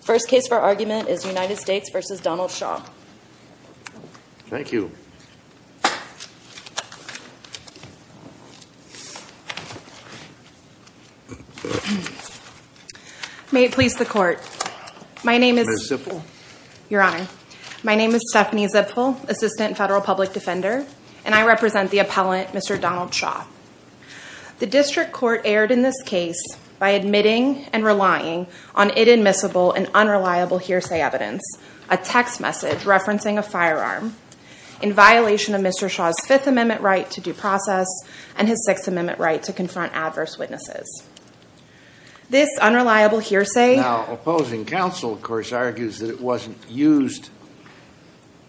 First case for argument is United States v. Donald Shaw. Thank you. May it please the Court. My name is... Ms. Zipfel. Your Honor, my name is Stephanie Zipfel, Assistant Federal Public Defender, and I represent the appellant, Mr. Donald Shaw. The District Court erred in this case by admitting and relying on inadmissible and unreliable hearsay evidence, a text message referencing a firearm in violation of Mr. Shaw's Fifth Amendment right to due process and his Sixth Amendment right to confront adverse witnesses. This unreliable hearsay... Now, opposing counsel, of course, argues that it wasn't used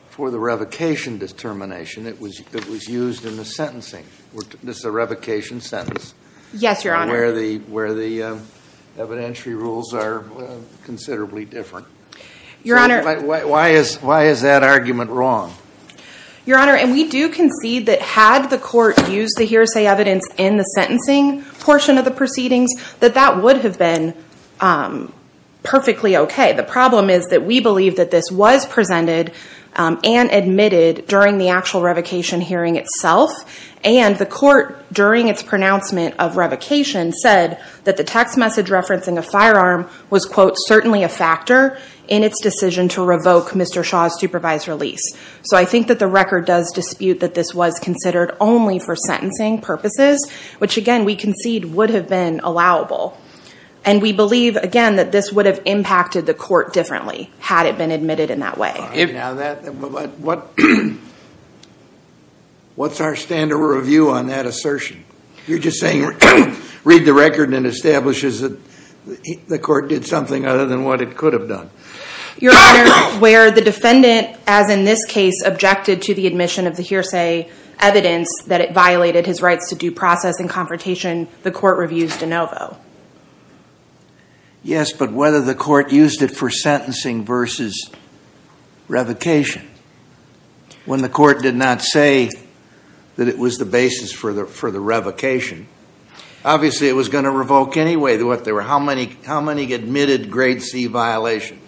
for the revocation determination. It was used in the sentencing. This is a revocation sentence. Yes, Your Honor. Where the evidentiary rules are considerably different. Your Honor... Why is that argument wrong? Your Honor, and we do concede that had the court used the hearsay evidence in the sentencing portion of the proceedings, that that would have been perfectly okay. The problem is that we believe that this was presented and admitted during the actual revocation hearing itself, and the court, during its pronouncement of revocation, said that the text message referencing a firearm was, quote, certainly a factor in its decision to revoke Mr. Shaw's supervised release. So I think that the record does dispute that this was considered only for sentencing purposes, which, again, we concede would have been allowable. And we believe, again, that this would have impacted the court differently had it been admitted in that way. Now, what's our stand or review on that assertion? You're just saying read the record and establishes that the court did something other than what it could have done. Your Honor, where the defendant, as in this case, objected to the admission of the hearsay evidence that it violated his rights to due process and confrontation, the court reviews de novo. Yes, but whether the court used it for sentencing versus revocation, when the court did not say that it was the basis for the revocation, obviously it was going to revoke anyway. How many admitted grade C violations?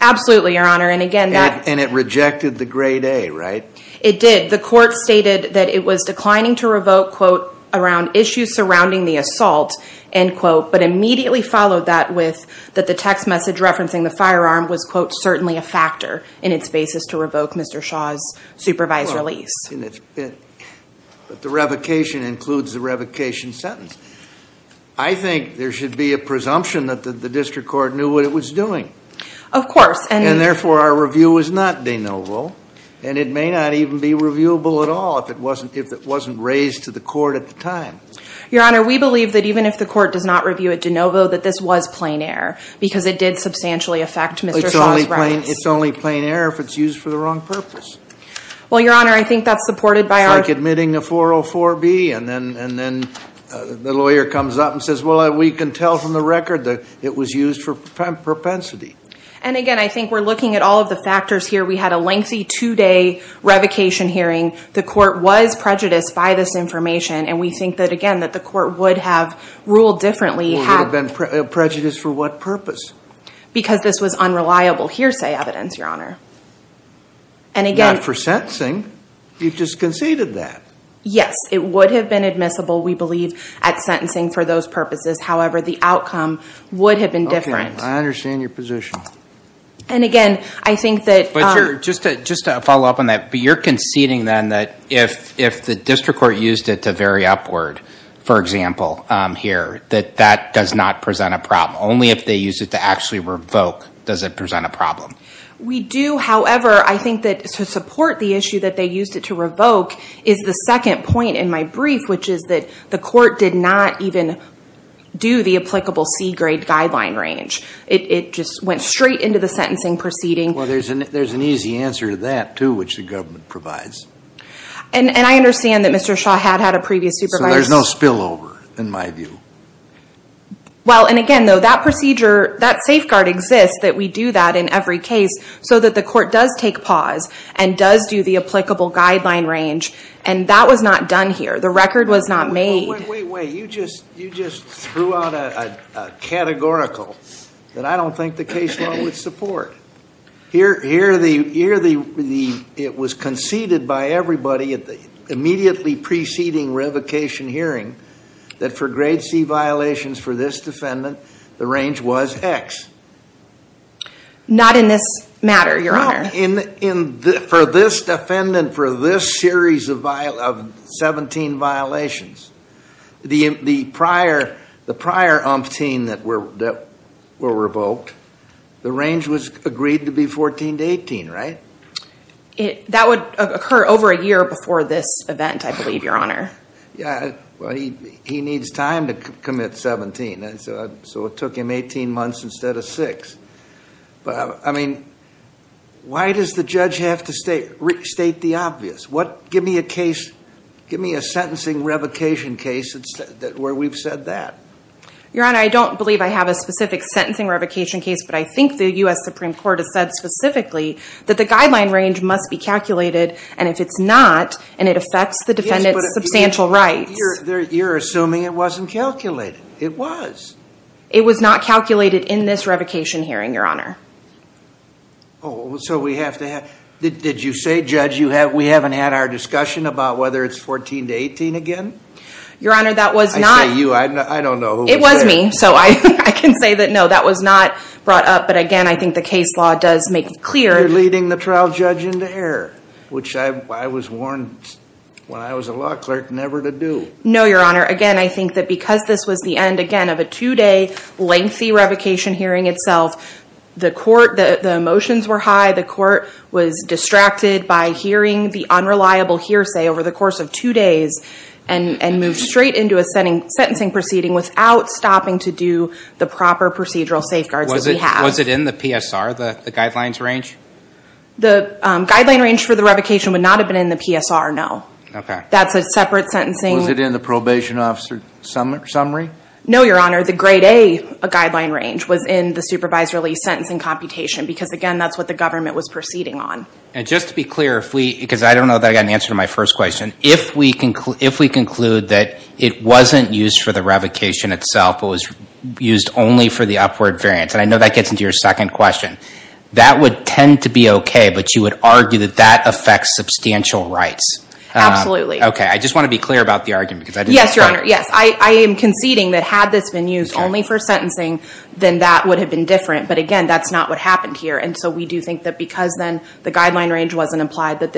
Absolutely, Your Honor. And it rejected the grade A, right? It did. The court stated that it was declining to revoke, quote, around issues surrounding the assault, end quote, but immediately followed that with that the text message referencing the firearm was, quote, certainly a factor in its basis to revoke Mr. Shaw's supervised release. But the revocation includes the revocation sentence. I think there should be a presumption that the district court knew what it was doing. Of course. And therefore, our review is not de novo, and it may not even be reviewable at all if it wasn't raised to the court at the time. Your Honor, we believe that even if the court does not review it de novo, that this was plain error because it did substantially affect Mr. Shaw's rights. It's only plain error if it's used for the wrong purpose. Well, Your Honor, I think that's supported by our ---- It's like admitting a 404B and then the lawyer comes up and says, well, we can tell from the record that it was used for propensity. And, again, I think we're looking at all of the factors here. We had a lengthy two-day revocation hearing. The court was prejudiced by this information, and we think that, again, that the court would have ruled differently. Would have been prejudiced for what purpose? Because this was unreliable hearsay evidence, Your Honor. And, again ---- Not for sentencing. You've just conceded that. Yes, it would have been admissible, we believe, at sentencing for those purposes. However, the outcome would have been different. I understand your position. And, again, I think that ---- Just to follow up on that, but you're conceding, then, that if the district court used it to vary upward, for example, here, that that does not present a problem. Only if they used it to actually revoke does it present a problem. We do, however, I think that to support the issue that they used it to revoke is the second point in my brief, which is that the court did not even do the applicable C-grade guideline range. It just went straight into the sentencing proceeding. Well, there's an easy answer to that, too, which the government provides. And I understand that Mr. Shaw had had a previous supervisor. So there's no spillover, in my view. Well, and, again, though, that procedure, that safeguard exists that we do that in every case so that the court does take pause and does do the applicable guideline range, and that was not done here. The record was not made. Wait, wait, wait. You just threw out a categorical that I don't think the case law would support. Here, it was conceded by everybody at the immediately preceding revocation hearing that for grade C violations for this defendant, the range was X. Not in this matter, Your Honor. For this defendant, for this series of 17 violations, the prior umpteen that were revoked, the range was agreed to be 14 to 18, right? That would occur over a year before this event, I believe, Your Honor. Yeah. Well, he needs time to commit 17. So it took him 18 months instead of six. I mean, why does the judge have to state the obvious? Give me a case, give me a sentencing revocation case where we've said that. Your Honor, I don't believe I have a specific sentencing revocation case, but I think the U.S. Supreme Court has said specifically that the guideline range must be calculated, and if it's not and it affects the defendant's substantial rights. You're assuming it wasn't calculated. It was. It was not calculated in this revocation hearing, Your Honor. Oh, so we have to have, did you say, Judge, we haven't had our discussion about whether it's 14 to 18 again? Your Honor, that was not. I say you, I don't know who was saying. It was me, so I can say that, no, that was not brought up. But again, I think the case law does make it clear. You're leading the trial judge into error, which I was warned when I was a law clerk never to do. No, Your Honor. Again, I think that because this was the end, again, of a two-day lengthy revocation hearing itself, the court, the motions were high. The court was distracted by hearing the unreliable hearsay over the course of two days and moved straight into a sentencing proceeding without stopping to do the proper procedural safeguards that we have. Was it in the PSR, the guidelines range? The guideline range for the revocation would not have been in the PSR, no. Okay. That's a separate sentencing. Was it in the probation officer summary? No, Your Honor, the grade A guideline range was in the supervised release sentencing computation because, again, that's what the government was proceeding on. And just to be clear, because I don't know that I got an answer to my first question, if we conclude that it wasn't used for the revocation itself but was used only for the upward variance, and I know that gets into your second question, that would tend to be okay, but you would argue that that affects substantial rights. Absolutely. Okay, I just want to be clear about the argument. Yes, Your Honor, yes. I am conceding that had this been used only for sentencing, then that would have been different. But, again, that's not what happened here. And so we do think that because then the guideline range wasn't applied that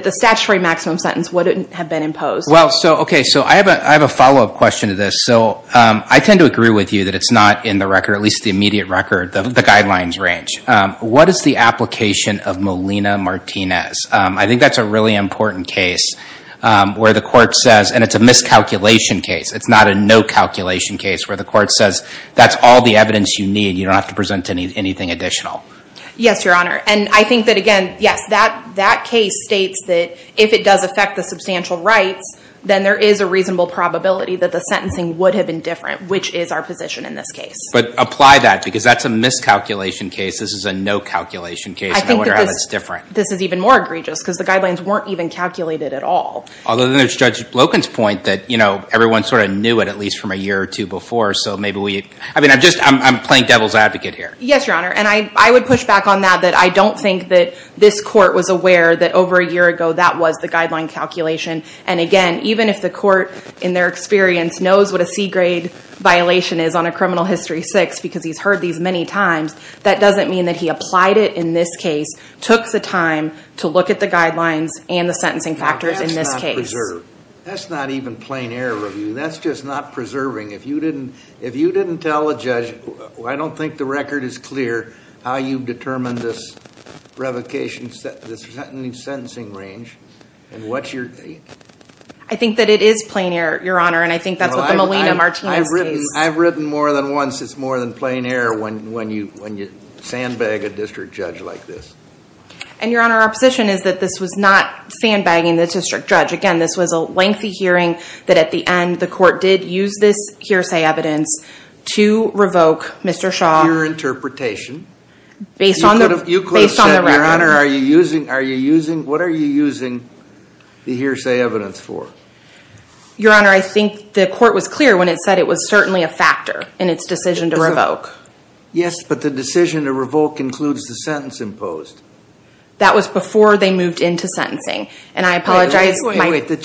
the statutory maximum sentence wouldn't have been imposed. Well, okay, so I have a follow-up question to this. So I tend to agree with you that it's not in the record, at least the immediate record, the guidelines range. What is the application of Molina-Martinez? I think that's a really important case where the court says, and it's a miscalculation case, it's not a no-calculation case, where the court says that's all the evidence you need, you don't have to present anything additional. Yes, Your Honor, and I think that, again, yes, that case states that if it does affect the substantial rights, then there is a reasonable probability that the sentencing would have been different, which is our position in this case. But apply that because that's a miscalculation case, this is a no-calculation case, and I wonder how that's different. This is even more egregious, because the guidelines weren't even calculated at all. Although then there's Judge Loken's point that everyone sort of knew it at least from a year or two before, so maybe we, I mean, I'm just, I'm playing devil's advocate here. Yes, Your Honor, and I would push back on that, that I don't think that this court was aware that over a year ago that was the guideline calculation. And again, even if the court, in their experience, knows what a C-grade violation is on a criminal history 6, because he's heard these many times, that doesn't mean that he applied it in this case, took the time to look at the guidelines and the sentencing factors in this case. That's not preserved. That's not even plain error review. That's just not preserving. If you didn't tell a judge, I don't think the record is clear how you've determined this revocation, this sentencing range, and what's your... I think that it is plain error, Your Honor, and I think that's what the Molina-Martinez case... I've written more than once it's more than plain error when you sandbag a district judge like this. And, Your Honor, our position is that this was not sandbagging the district judge. Again, this was a lengthy hearing that at the end the court did use this hearsay evidence to revoke Mr. Shaw... Your interpretation. Based on the record. You could have said, Your Honor, what are you using the hearsay evidence for? Your Honor, I think the court was clear when it said it was certainly a factor in its decision to revoke. Yes, but the decision to revoke includes the sentence imposed. That was before they moved into sentencing, and I apologize... The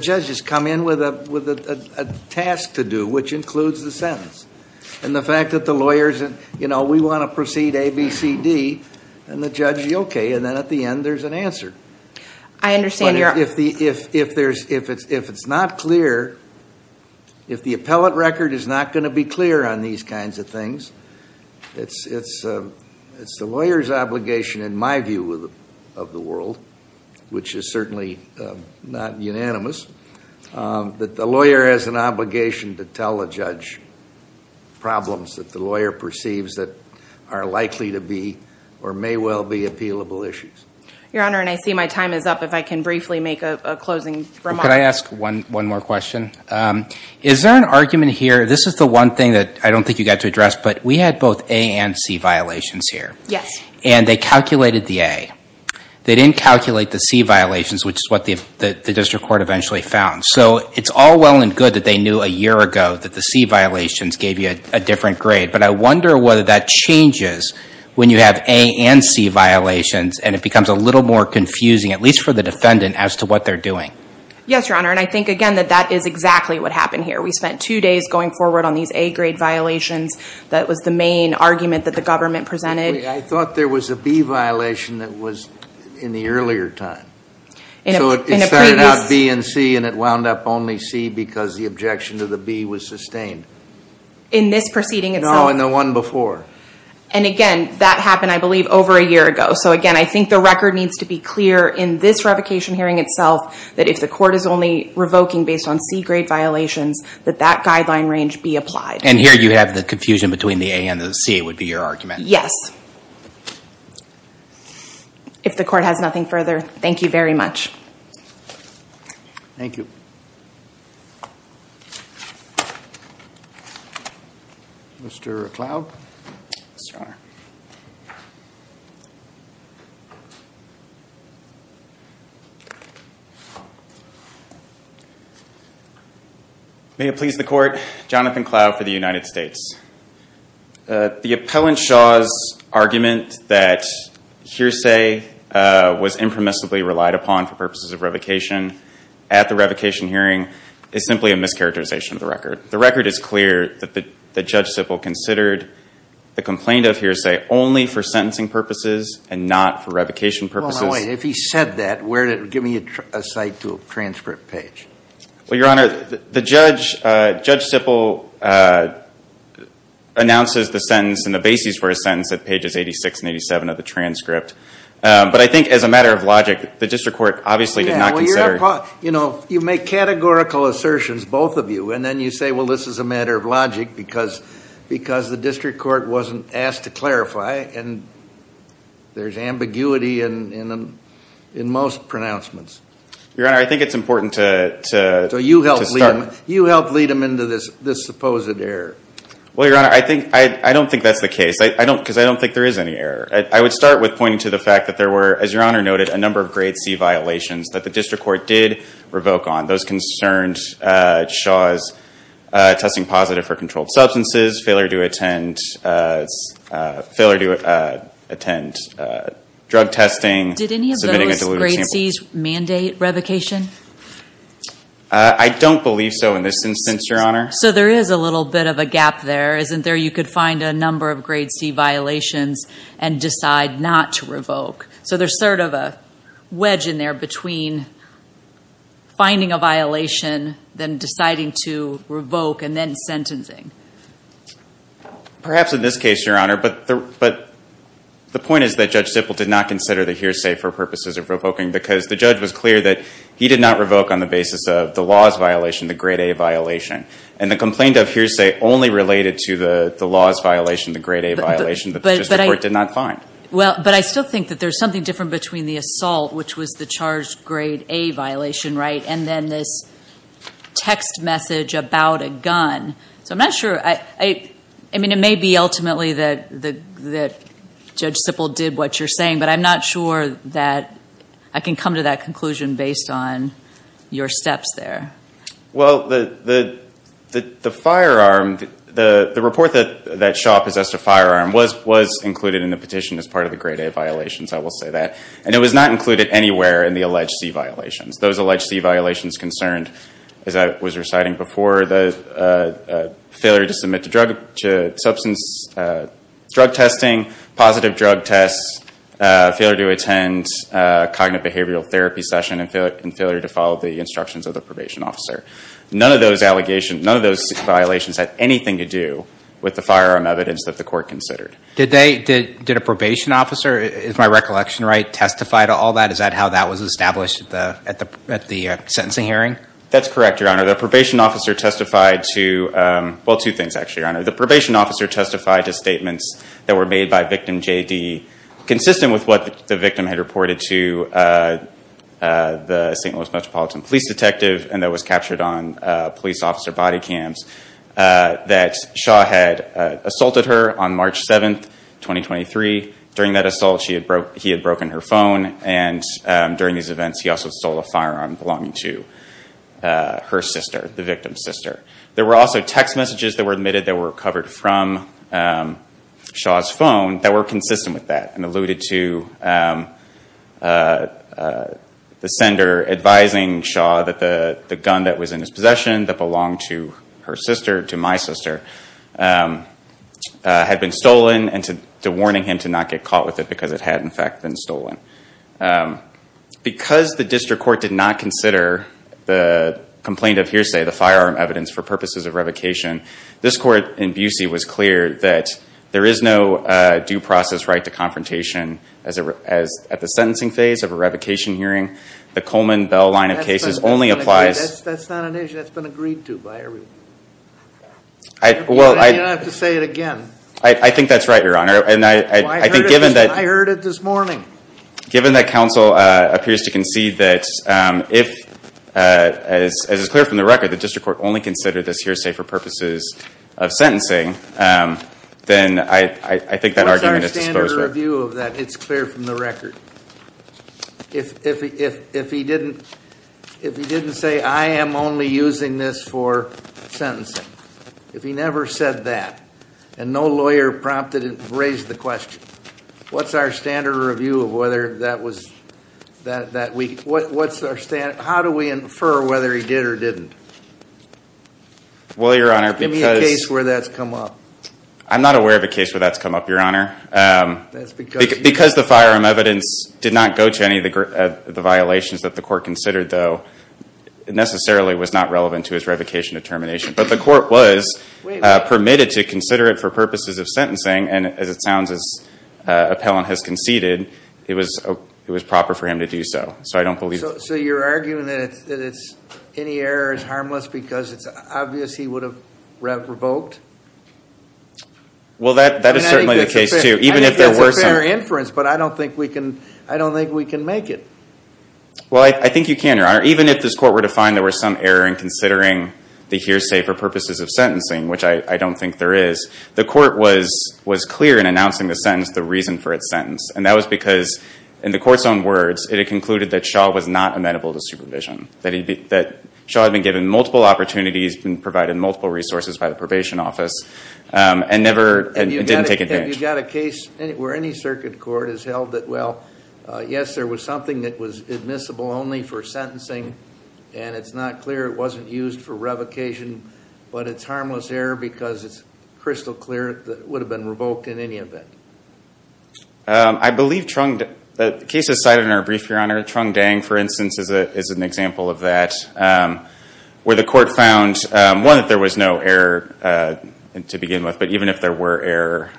judge has come in with a task to do, which includes the sentence. And the fact that the lawyers, you know, we want to proceed A, B, C, D, and the judge, okay, and then at the end there's an answer. I understand, Your Honor. But if it's not clear, if the appellate record is not going to be clear on these kinds of things, it's the lawyer's obligation, in my view of the world, which is certainly not unanimous, that the lawyer has an obligation to tell a judge problems that the lawyer perceives that are likely to be or may well be appealable issues. Your Honor, and I see my time is up. If I can briefly make a closing remark. Could I ask one more question? Is there an argument here, this is the one thing that I don't think you got to address, but we had both A and C violations here. Yes. And they calculated the A. They didn't calculate the C violations, which is what the district court eventually found. So it's all well and good that they knew a year ago that the C violations gave you a different grade. But I wonder whether that changes when you have A and C violations and it becomes a little more confusing, at least for the defendant, as to what they're doing. Yes, Your Honor. And I think, again, that that is exactly what happened here. We spent two days going forward on these A grade violations. That was the main argument that the government presented. I thought there was a B violation that was in the earlier time. So it started out B and C and it wound up only C because the objection to the B was sustained. In this proceeding itself? No, in the one before. And, again, that happened, I believe, over a year ago. So, again, I think the record needs to be clear in this revocation hearing itself that if the court is only revoking based on C grade violations, that that guideline range be applied. And here you have the confusion between the A and the C, would be your argument. Yes. If the court has nothing further, thank you very much. Thank you. Yes, Your Honor. May it please the court, Jonathan Cloud for the United States. The appellant Shaw's argument that hearsay was impermissibly relied upon for purposes of revocation at the revocation hearing is simply a mischaracterization of the record. The record is clear that Judge Sippel considered the complaint of hearsay only for sentencing purposes and not for revocation purposes. Well, now, wait. If he said that, give me a cite to a transcript page. Well, Your Honor, the judge, Judge Sippel, announces the sentence and the basis for his sentence at pages 86 and 87 of the transcript. But I think as a matter of logic, the district court obviously did not consider... Yeah, well, you're not... You know, you make categorical assertions, both of you, and then you say, well, this is a matter of logic because the district court wasn't asked to clarify and there's ambiguity in most pronouncements. Your Honor, I think it's important to... So you helped lead them into this supposed error. Well, Your Honor, I don't think that's the case because I don't think there is any error. I would start with pointing to the fact that there were, as Your Honor noted, a number of grade C violations that the district court did revoke on. Those concerned Shaw's testing positive for controlled substances, failure to attend drug testing... Did any of those grade C's mandate revocation? I don't believe so in this instance, Your Honor. So there is a little bit of a gap there, isn't there? You could find a number of grade C violations and decide not to revoke. So there's sort of a wedge in there between finding a violation then deciding to revoke and then sentencing. Perhaps in this case, Your Honor, but the point is that Judge Zippel did not consider the hearsay for purposes of revoking because the judge was clear that he did not revoke on the basis of the laws violation, the grade A violation. And the complaint of hearsay only related to the laws violation, the grade A violation, that the district court did not find. But I still think that there's something different between the assault, which was the charged grade A violation, right, and then this text message about a gun. So I'm not sure. I mean, it may be ultimately that Judge Zippel did what you're saying, but I'm not sure that I can come to that conclusion based on your steps there. Well, the firearm, the report that Shaw possessed a firearm was included in the petition as part of the grade A violation, so I will say that. And it was not included anywhere in the alleged C violations. Those alleged C violations concerned, as I was reciting before, the failure to submit to drug testing, positive drug tests, failure to attend a cognitive behavioral therapy session, and failure to follow the instructions of the probation officer. None of those allegations, none of those violations had anything to do with the firearm evidence that the court considered. Did a probation officer, is my recollection right, testify to all that? Is that how that was established at the sentencing hearing? That's correct, Your Honor. The probation officer testified to, well, two things actually, Your Honor. The probation officer testified to statements that were made by victim JD consistent with what the victim had reported to the St. Louis Metropolitan Police Detective and that was captured on police officer body cams, that Shaw had assaulted her on March 7th, 2023. During that assault, he had broken her phone, and during these events, he also stole a firearm belonging to her sister, the victim's sister. There were also text messages that were admitted that were covered from Shaw's phone that were consistent with that and alluded to the sender advising Shaw that the gun that was in his possession that belonged to her sister, to my sister, had been stolen and to warning him to not get caught with it because it had in fact been stolen. Because the district court did not consider the complaint of hearsay, the firearm evidence, for purposes of revocation, this court in Busey was clear that there is no due process right to confrontation at the sentencing phase of a revocation hearing. The Coleman-Bell line of cases only applies... That's not an issue that's been agreed to by everyone. You don't have to say it again. I think that's right, Your Honor. I heard it this morning. Given that counsel appears to concede that if, as is clear from the record, the district court only considered this hearsay for purposes of sentencing, then I think that argument is disposable. What's the standard review of that? It's clear from the record. If he didn't say, I am only using this for sentencing, if he never said that and no lawyer raised the question, what's our standard review of whether that was... How do we infer whether he did or didn't? Well, Your Honor, because... Give me a case where that's come up. I'm not aware of a case where that's come up, Your Honor. Because the firearm evidence did not go to any of the violations that the court considered, though, it necessarily was not relevant to his revocation of termination. But the court was permitted to consider it for purposes of sentencing, and as it sounds, as appellant has conceded, it was proper for him to do so. So I don't believe... So you're arguing that any error is harmless because it's obvious he would have revoked? Well, that is certainly the case, too. Even if there were some... I think that's a fair inference, but I don't think we can make it. Well, I think you can, Your Honor. Even if this court were to find there were some error in considering the hearsay for purposes of sentencing, which I don't think there is, the court was clear in announcing the sentence, the reason for its sentence, and that was because, in the court's own words, it had concluded that Shaw was not amenable to supervision, that Shaw had been given multiple opportunities, been provided multiple resources by the probation office, and never... It didn't take advantage. Have you got a case where any circuit court has held that, well, yes, there was something that was admissible only for sentencing, and it's not clear it wasn't used for revocation, but it's harmless error because it's crystal clear that it would have been revoked in any event? I believe Trung... The case is cited in our brief, Your Honor. Trung Dang, for instance, is an example of that, where the court found, one, that there was no error to begin with, but even if there were error,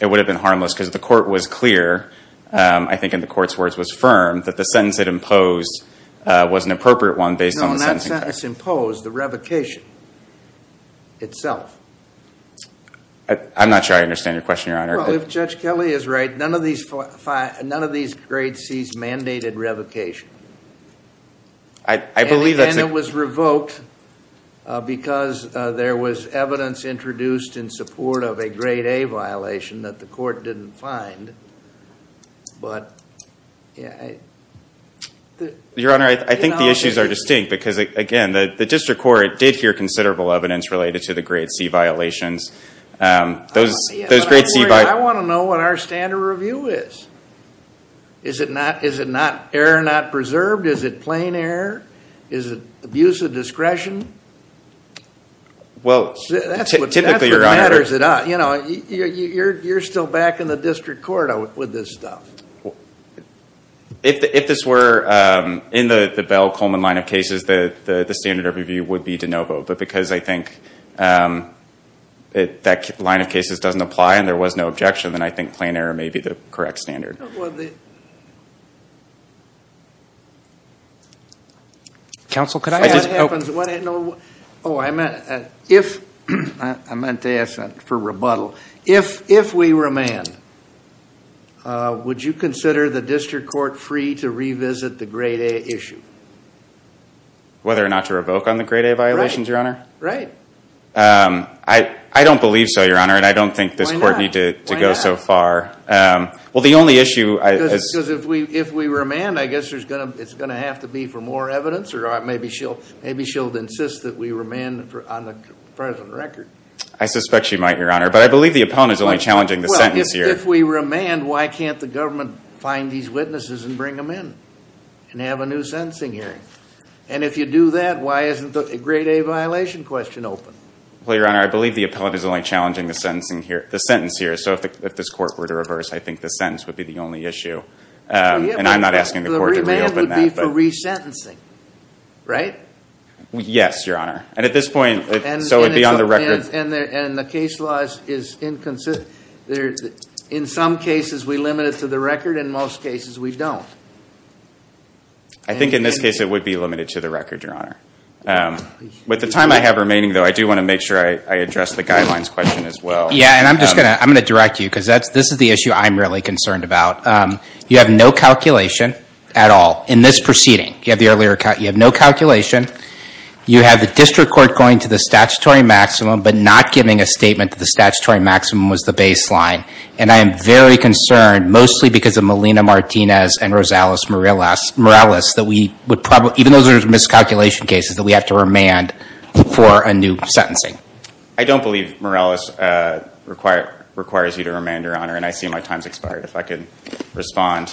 it would have been harmless because the court was clear, I think in the court's words, was firm that the sentence it imposed was an appropriate one based on the sentencing... No, that sentence imposed the revocation itself. I'm not sure I understand your question, Your Honor. Well, if Judge Kelly is right, none of these grade Cs mandated revocation. I believe that's... because there was evidence introduced in support of a grade A violation that the court didn't find, but... Your Honor, I think the issues are distinct because, again, the district court did hear considerable evidence related to the grade C violations. Those grade C... I want to know what our standard review is. Is it error not preserved? Is it plain error? Is it abuse of discretion? Well, typically, Your Honor... That's what matters a lot. You know, you're still back in the district court with this stuff. If this were in the Bell-Coleman line of cases, the standard review would be de novo, but because I think that line of cases doesn't apply and there was no objection, then I think plain error may be the correct standard. Well, the... Counsel, could I... If that happens, what... Oh, I meant... If... I meant to ask that for rebuttal. If we remand, would you consider the district court free to revisit the grade A issue? Whether or not to revoke on the grade A violations, Your Honor? Right. I don't believe so, Your Honor, and I don't think this court need to go so far. Well, the only issue... Because if we remand, I guess it's going to have to be for more evidence or maybe she'll insist that we remand on the present record. I suspect she might, Your Honor, but I believe the appellant is only challenging the sentence here. Well, if we remand, why can't the government find these witnesses and bring them in and have a new sentencing hearing? And if you do that, why isn't the grade A violation question open? Well, Your Honor, I believe the appellant is only challenging the sentence here, so if this court were to reverse, I think the sentence would be the only issue. And I'm not asking the court to reopen that. The remand would be for resentencing, right? Yes, Your Honor. And at this point, so it would be on the record. And the case law is inconsistent. In some cases, we limit it to the record. In most cases, we don't. I think in this case, it would be limited to the record, Your Honor. With the time I have remaining, though, I do want to make sure I address the guidelines question as well. Yeah, and I'm just going to direct you, because this is the issue I'm really concerned about. You have no calculation at all in this proceeding. You have no calculation. You have the district court going to the statutory maximum, but not giving a statement that the statutory maximum was the baseline. And I am very concerned, mostly because of Melina Martinez and Rosales Morales, that we would probably, even though those are miscalculation cases, that we have to remand for a new sentencing. I don't believe Morales requires you to remand, Your Honor. And I see my time's expired, if I could respond.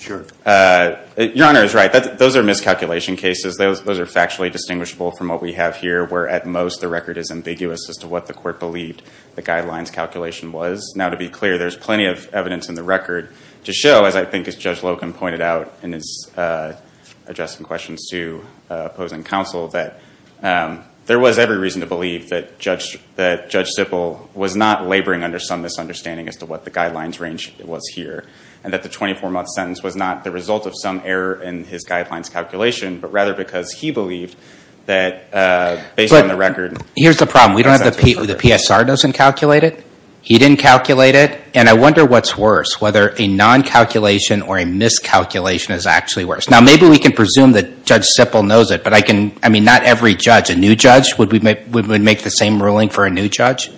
Sure. Your Honor is right. Those are miscalculation cases. Those are factually distinguishable from what we have here, where, at most, the record is ambiguous as to what the court believed the guidelines calculation was. Now, to be clear, there's plenty of evidence in the record to show, as I think as Judge Loken pointed out in his addressing questions to opposing counsel, that there was every reason to believe that Judge Sippel was not laboring under some misunderstanding as to what the guidelines range was here, and that the 24-month sentence was not the result of some error in his guidelines calculation, but rather because he believed that, based on the record... Here's the problem. We don't have the... The PSR doesn't calculate it. He didn't calculate it. And I wonder what's worse, whether a non-calculation or a miscalculation is actually worse. Now, maybe we can presume that Judge Sippel knows it, but I can... I mean, not every judge. A new judge, would we make the same ruling for a new judge?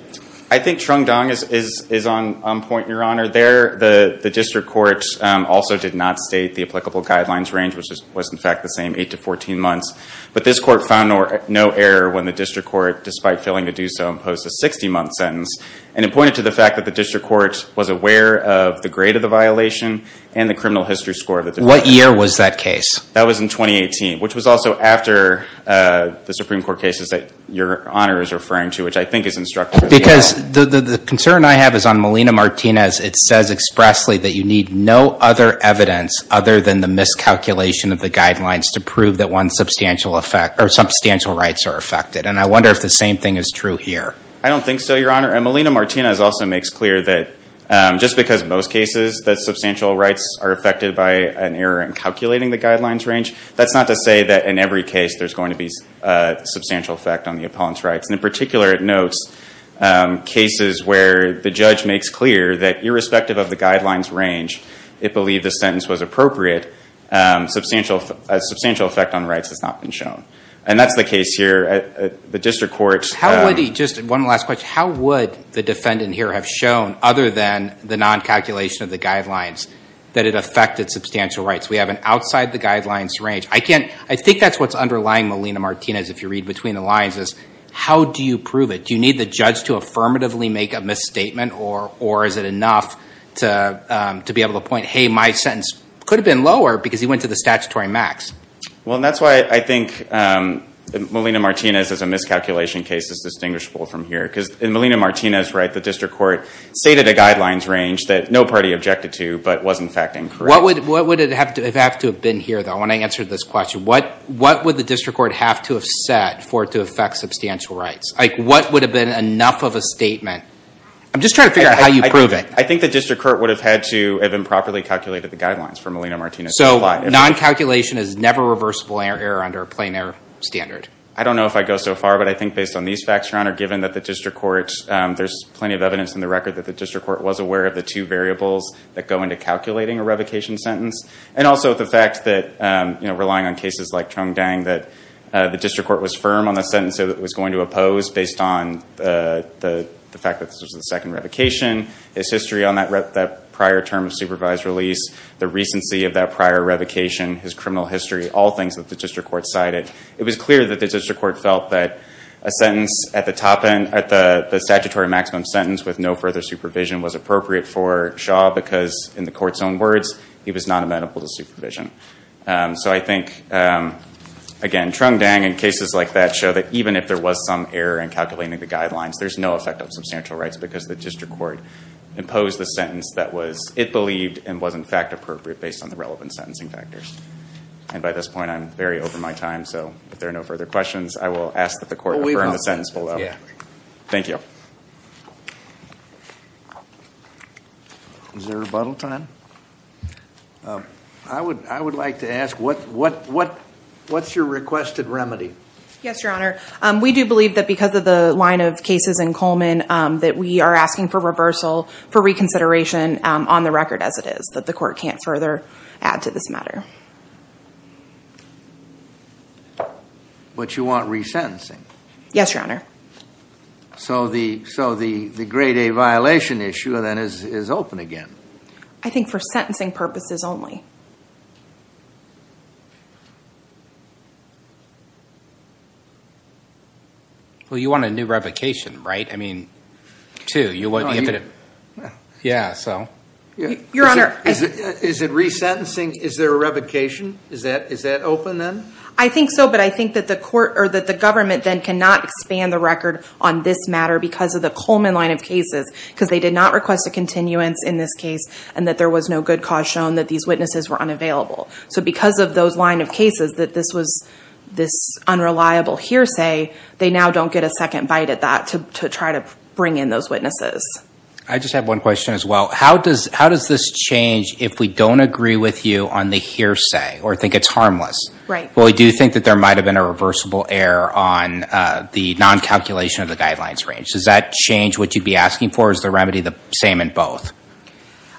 I think Trung Dong is on point, Your Honor. There, the district court also did not state the applicable guidelines range, which was, in fact, the same 8 to 14 months. But this court found no error when the district court, despite failing to do so, imposed a 60-month sentence. And it pointed to the fact that the district court was aware of the grade of the violation and the criminal history score of the defendant. What year was that case? That was in 2018, which was also after the Supreme Court cases that Your Honor is referring to, which I think is instructive. Because the concern I have is on Molina-Martinez. It says expressly that you need no other evidence other than the miscalculation of the guidelines to prove that one's substantial effect... or substantial rights are affected. And I wonder if the same thing is true here. I don't think so, Your Honor. And Molina-Martinez also makes clear that just because in most cases that substantial rights are affected by an error in calculating the guidelines range, that's not to say that in every case there's going to be a substantial effect on the opponent's rights. And in particular, it notes cases where the judge makes clear that irrespective of the guidelines range, it believed the sentence was appropriate, a substantial effect on rights has not been shown. And that's the case here at the District Court. How would he... just one last question. How would the defendant here have shown, other than the non-calculation of the guidelines, that it affected substantial rights? We have an outside the guidelines range. I can't... I think that's what's underlying Molina-Martinez, if you read between the lines, is how do you prove it? Do you need the judge to affirmatively make a misstatement or is it enough to be able to point, hey, my sentence could have been lower because he went to the statutory max? Well, and that's why I think Molina-Martinez as a miscalculation case is distinguishable from here. Because in Molina-Martinez, the District Court stated a guidelines range that no party objected to, but was in fact incorrect. What would it have to... if it had to have been here, I want to answer this question. What would the District Court have to have set for it to affect substantial rights? Like, what would have been enough of a statement? I'm just trying to figure out how you prove it. I think the District Court would have had to have improperly calculated the guidelines for Molina-Martinez. So non-calculation is never reversible error under a plain error standard? I don't know if I go so far, but I think based on these facts, Your Honor, given that the District Court... there's plenty of evidence in the record that the District Court was aware of the two variables that go into calculating a revocation sentence. And also the fact that, you know, relying on cases like Chung Dang that the District Court was firm on the sentence that it was going to oppose based on the fact that this was the second revocation, his history on that prior term of supervised release, the recency of that prior revocation, his criminal history, all things that the District Court cited. It was clear that the District Court felt that a sentence at the top end, at the statutory maximum sentence with no further supervision was appropriate for Shaw because, in the Court's own words, he was not amenable to supervision. So I think, again, Chung Dang and cases like that show that even if there was some error in calculating the guidelines, there's no effect on substantial rights because the District Court imposed the sentence that it believed and was, in fact, appropriate based on the relevant sentencing factors. And by this point, I'm very over my time, so if there are no further questions, I will ask that the Court confirm the sentence below. Thank you. Is there a rebuttal time? I would like to ask what's your requested remedy? Yes, Your Honor. We do believe that because of the line of cases in Coleman that we are asking for reversal, for reconsideration on the record as it is, that the Court can't further add to this matter. But you want resentencing? Yes, Your Honor. So the Grade A violation issue then is open again? I think for sentencing purposes only. Well, you want a new revocation, right? I mean, two. Yeah, so. Your Honor. Is it resentencing? Is there a revocation? Is that open then? I think so, but I think that the Government then cannot expand the record on this matter because of the Coleman line of cases because they did not request a continuance in this case and that there was no good cause shown that these witnesses were unavailable. So because of those line of cases that this was this unreliable hearsay, they now don't get a second bite at that to try to bring in those witnesses. I just have one question as well. How does this change if we don't agree with you on the hearsay or think it's harmless? Right. Well, we do think that there might have been a reversible error on the non-calculation of the guidelines range. Does that change what you'd be asking for? Or is the remedy the same in both?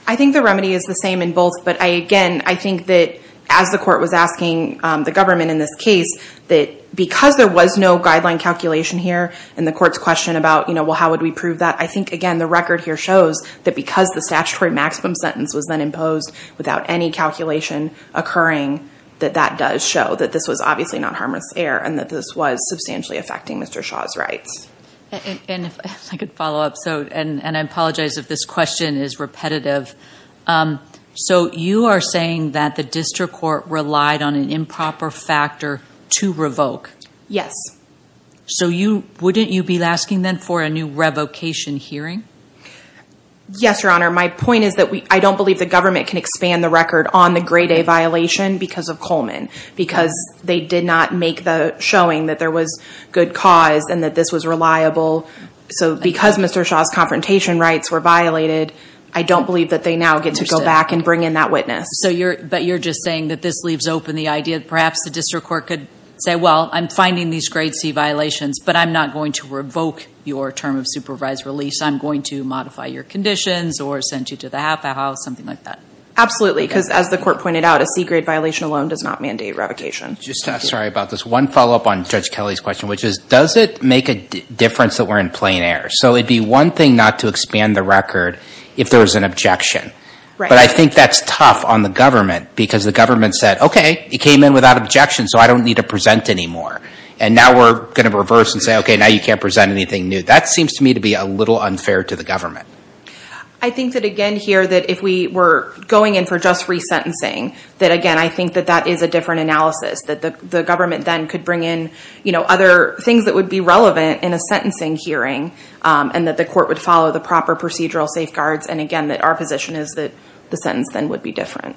I think the remedy is the same in both, but again, I think that as the Court was asking the Government in this case, that because there was no guideline calculation here and the Court's question about how would we prove that, I think, again, the record here shows that because the statutory maximum sentence was then imposed without any calculation occurring, that that does show that this was obviously not harmless error and that this was substantially affecting Mr. Shaw's rights. If I could follow up. And I apologize if this question is repetitive. So you are saying that the District Court relied on an improper factor to revoke? Yes. So wouldn't you be asking then for a new revocation hearing? Yes, Your Honor. My point is that I don't believe the Government can expand the record on the Grade A violation because of Coleman, because they did not make the showing that there was good cause and that this was reliable. So because Mr. Shaw's confrontation rights were violated, I don't believe that they now get to go back and bring in that witness. But you're just saying that this leaves open the idea that perhaps the District Court could say, well, I'm finding these Grade C violations but I'm not going to revoke your term of supervised release. I'm going to modify your conditions or send you to the half-house, something like that. Absolutely. Because as the Court pointed out, a C-Grade violation alone does not mandate revocation. Sorry about this. One follow-up on Judge Kelly's question, which is, does it make a difference that we're in plain error? So it would be one thing not to expand the record if there was an objection. But I think that's tough on the government because the government said, okay, it came in without objection so I don't need to present anymore. And now we're going to reverse and say, okay, now you can't present anything new. That seems to me to be a little unfair to the government. I think that again here that if we were going in for just resentencing, that again, I think that that is a different analysis. That the government then could bring in other things that would be relevant in a sentencing hearing and that the court would follow the proper procedural safeguards and again, that our position is that the sentence then would be different.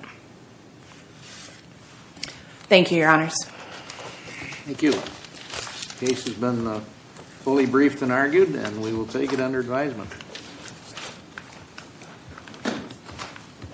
Thank you, Your Honors. Thank you. The case has been fully briefed and argued and we will take it under advisement.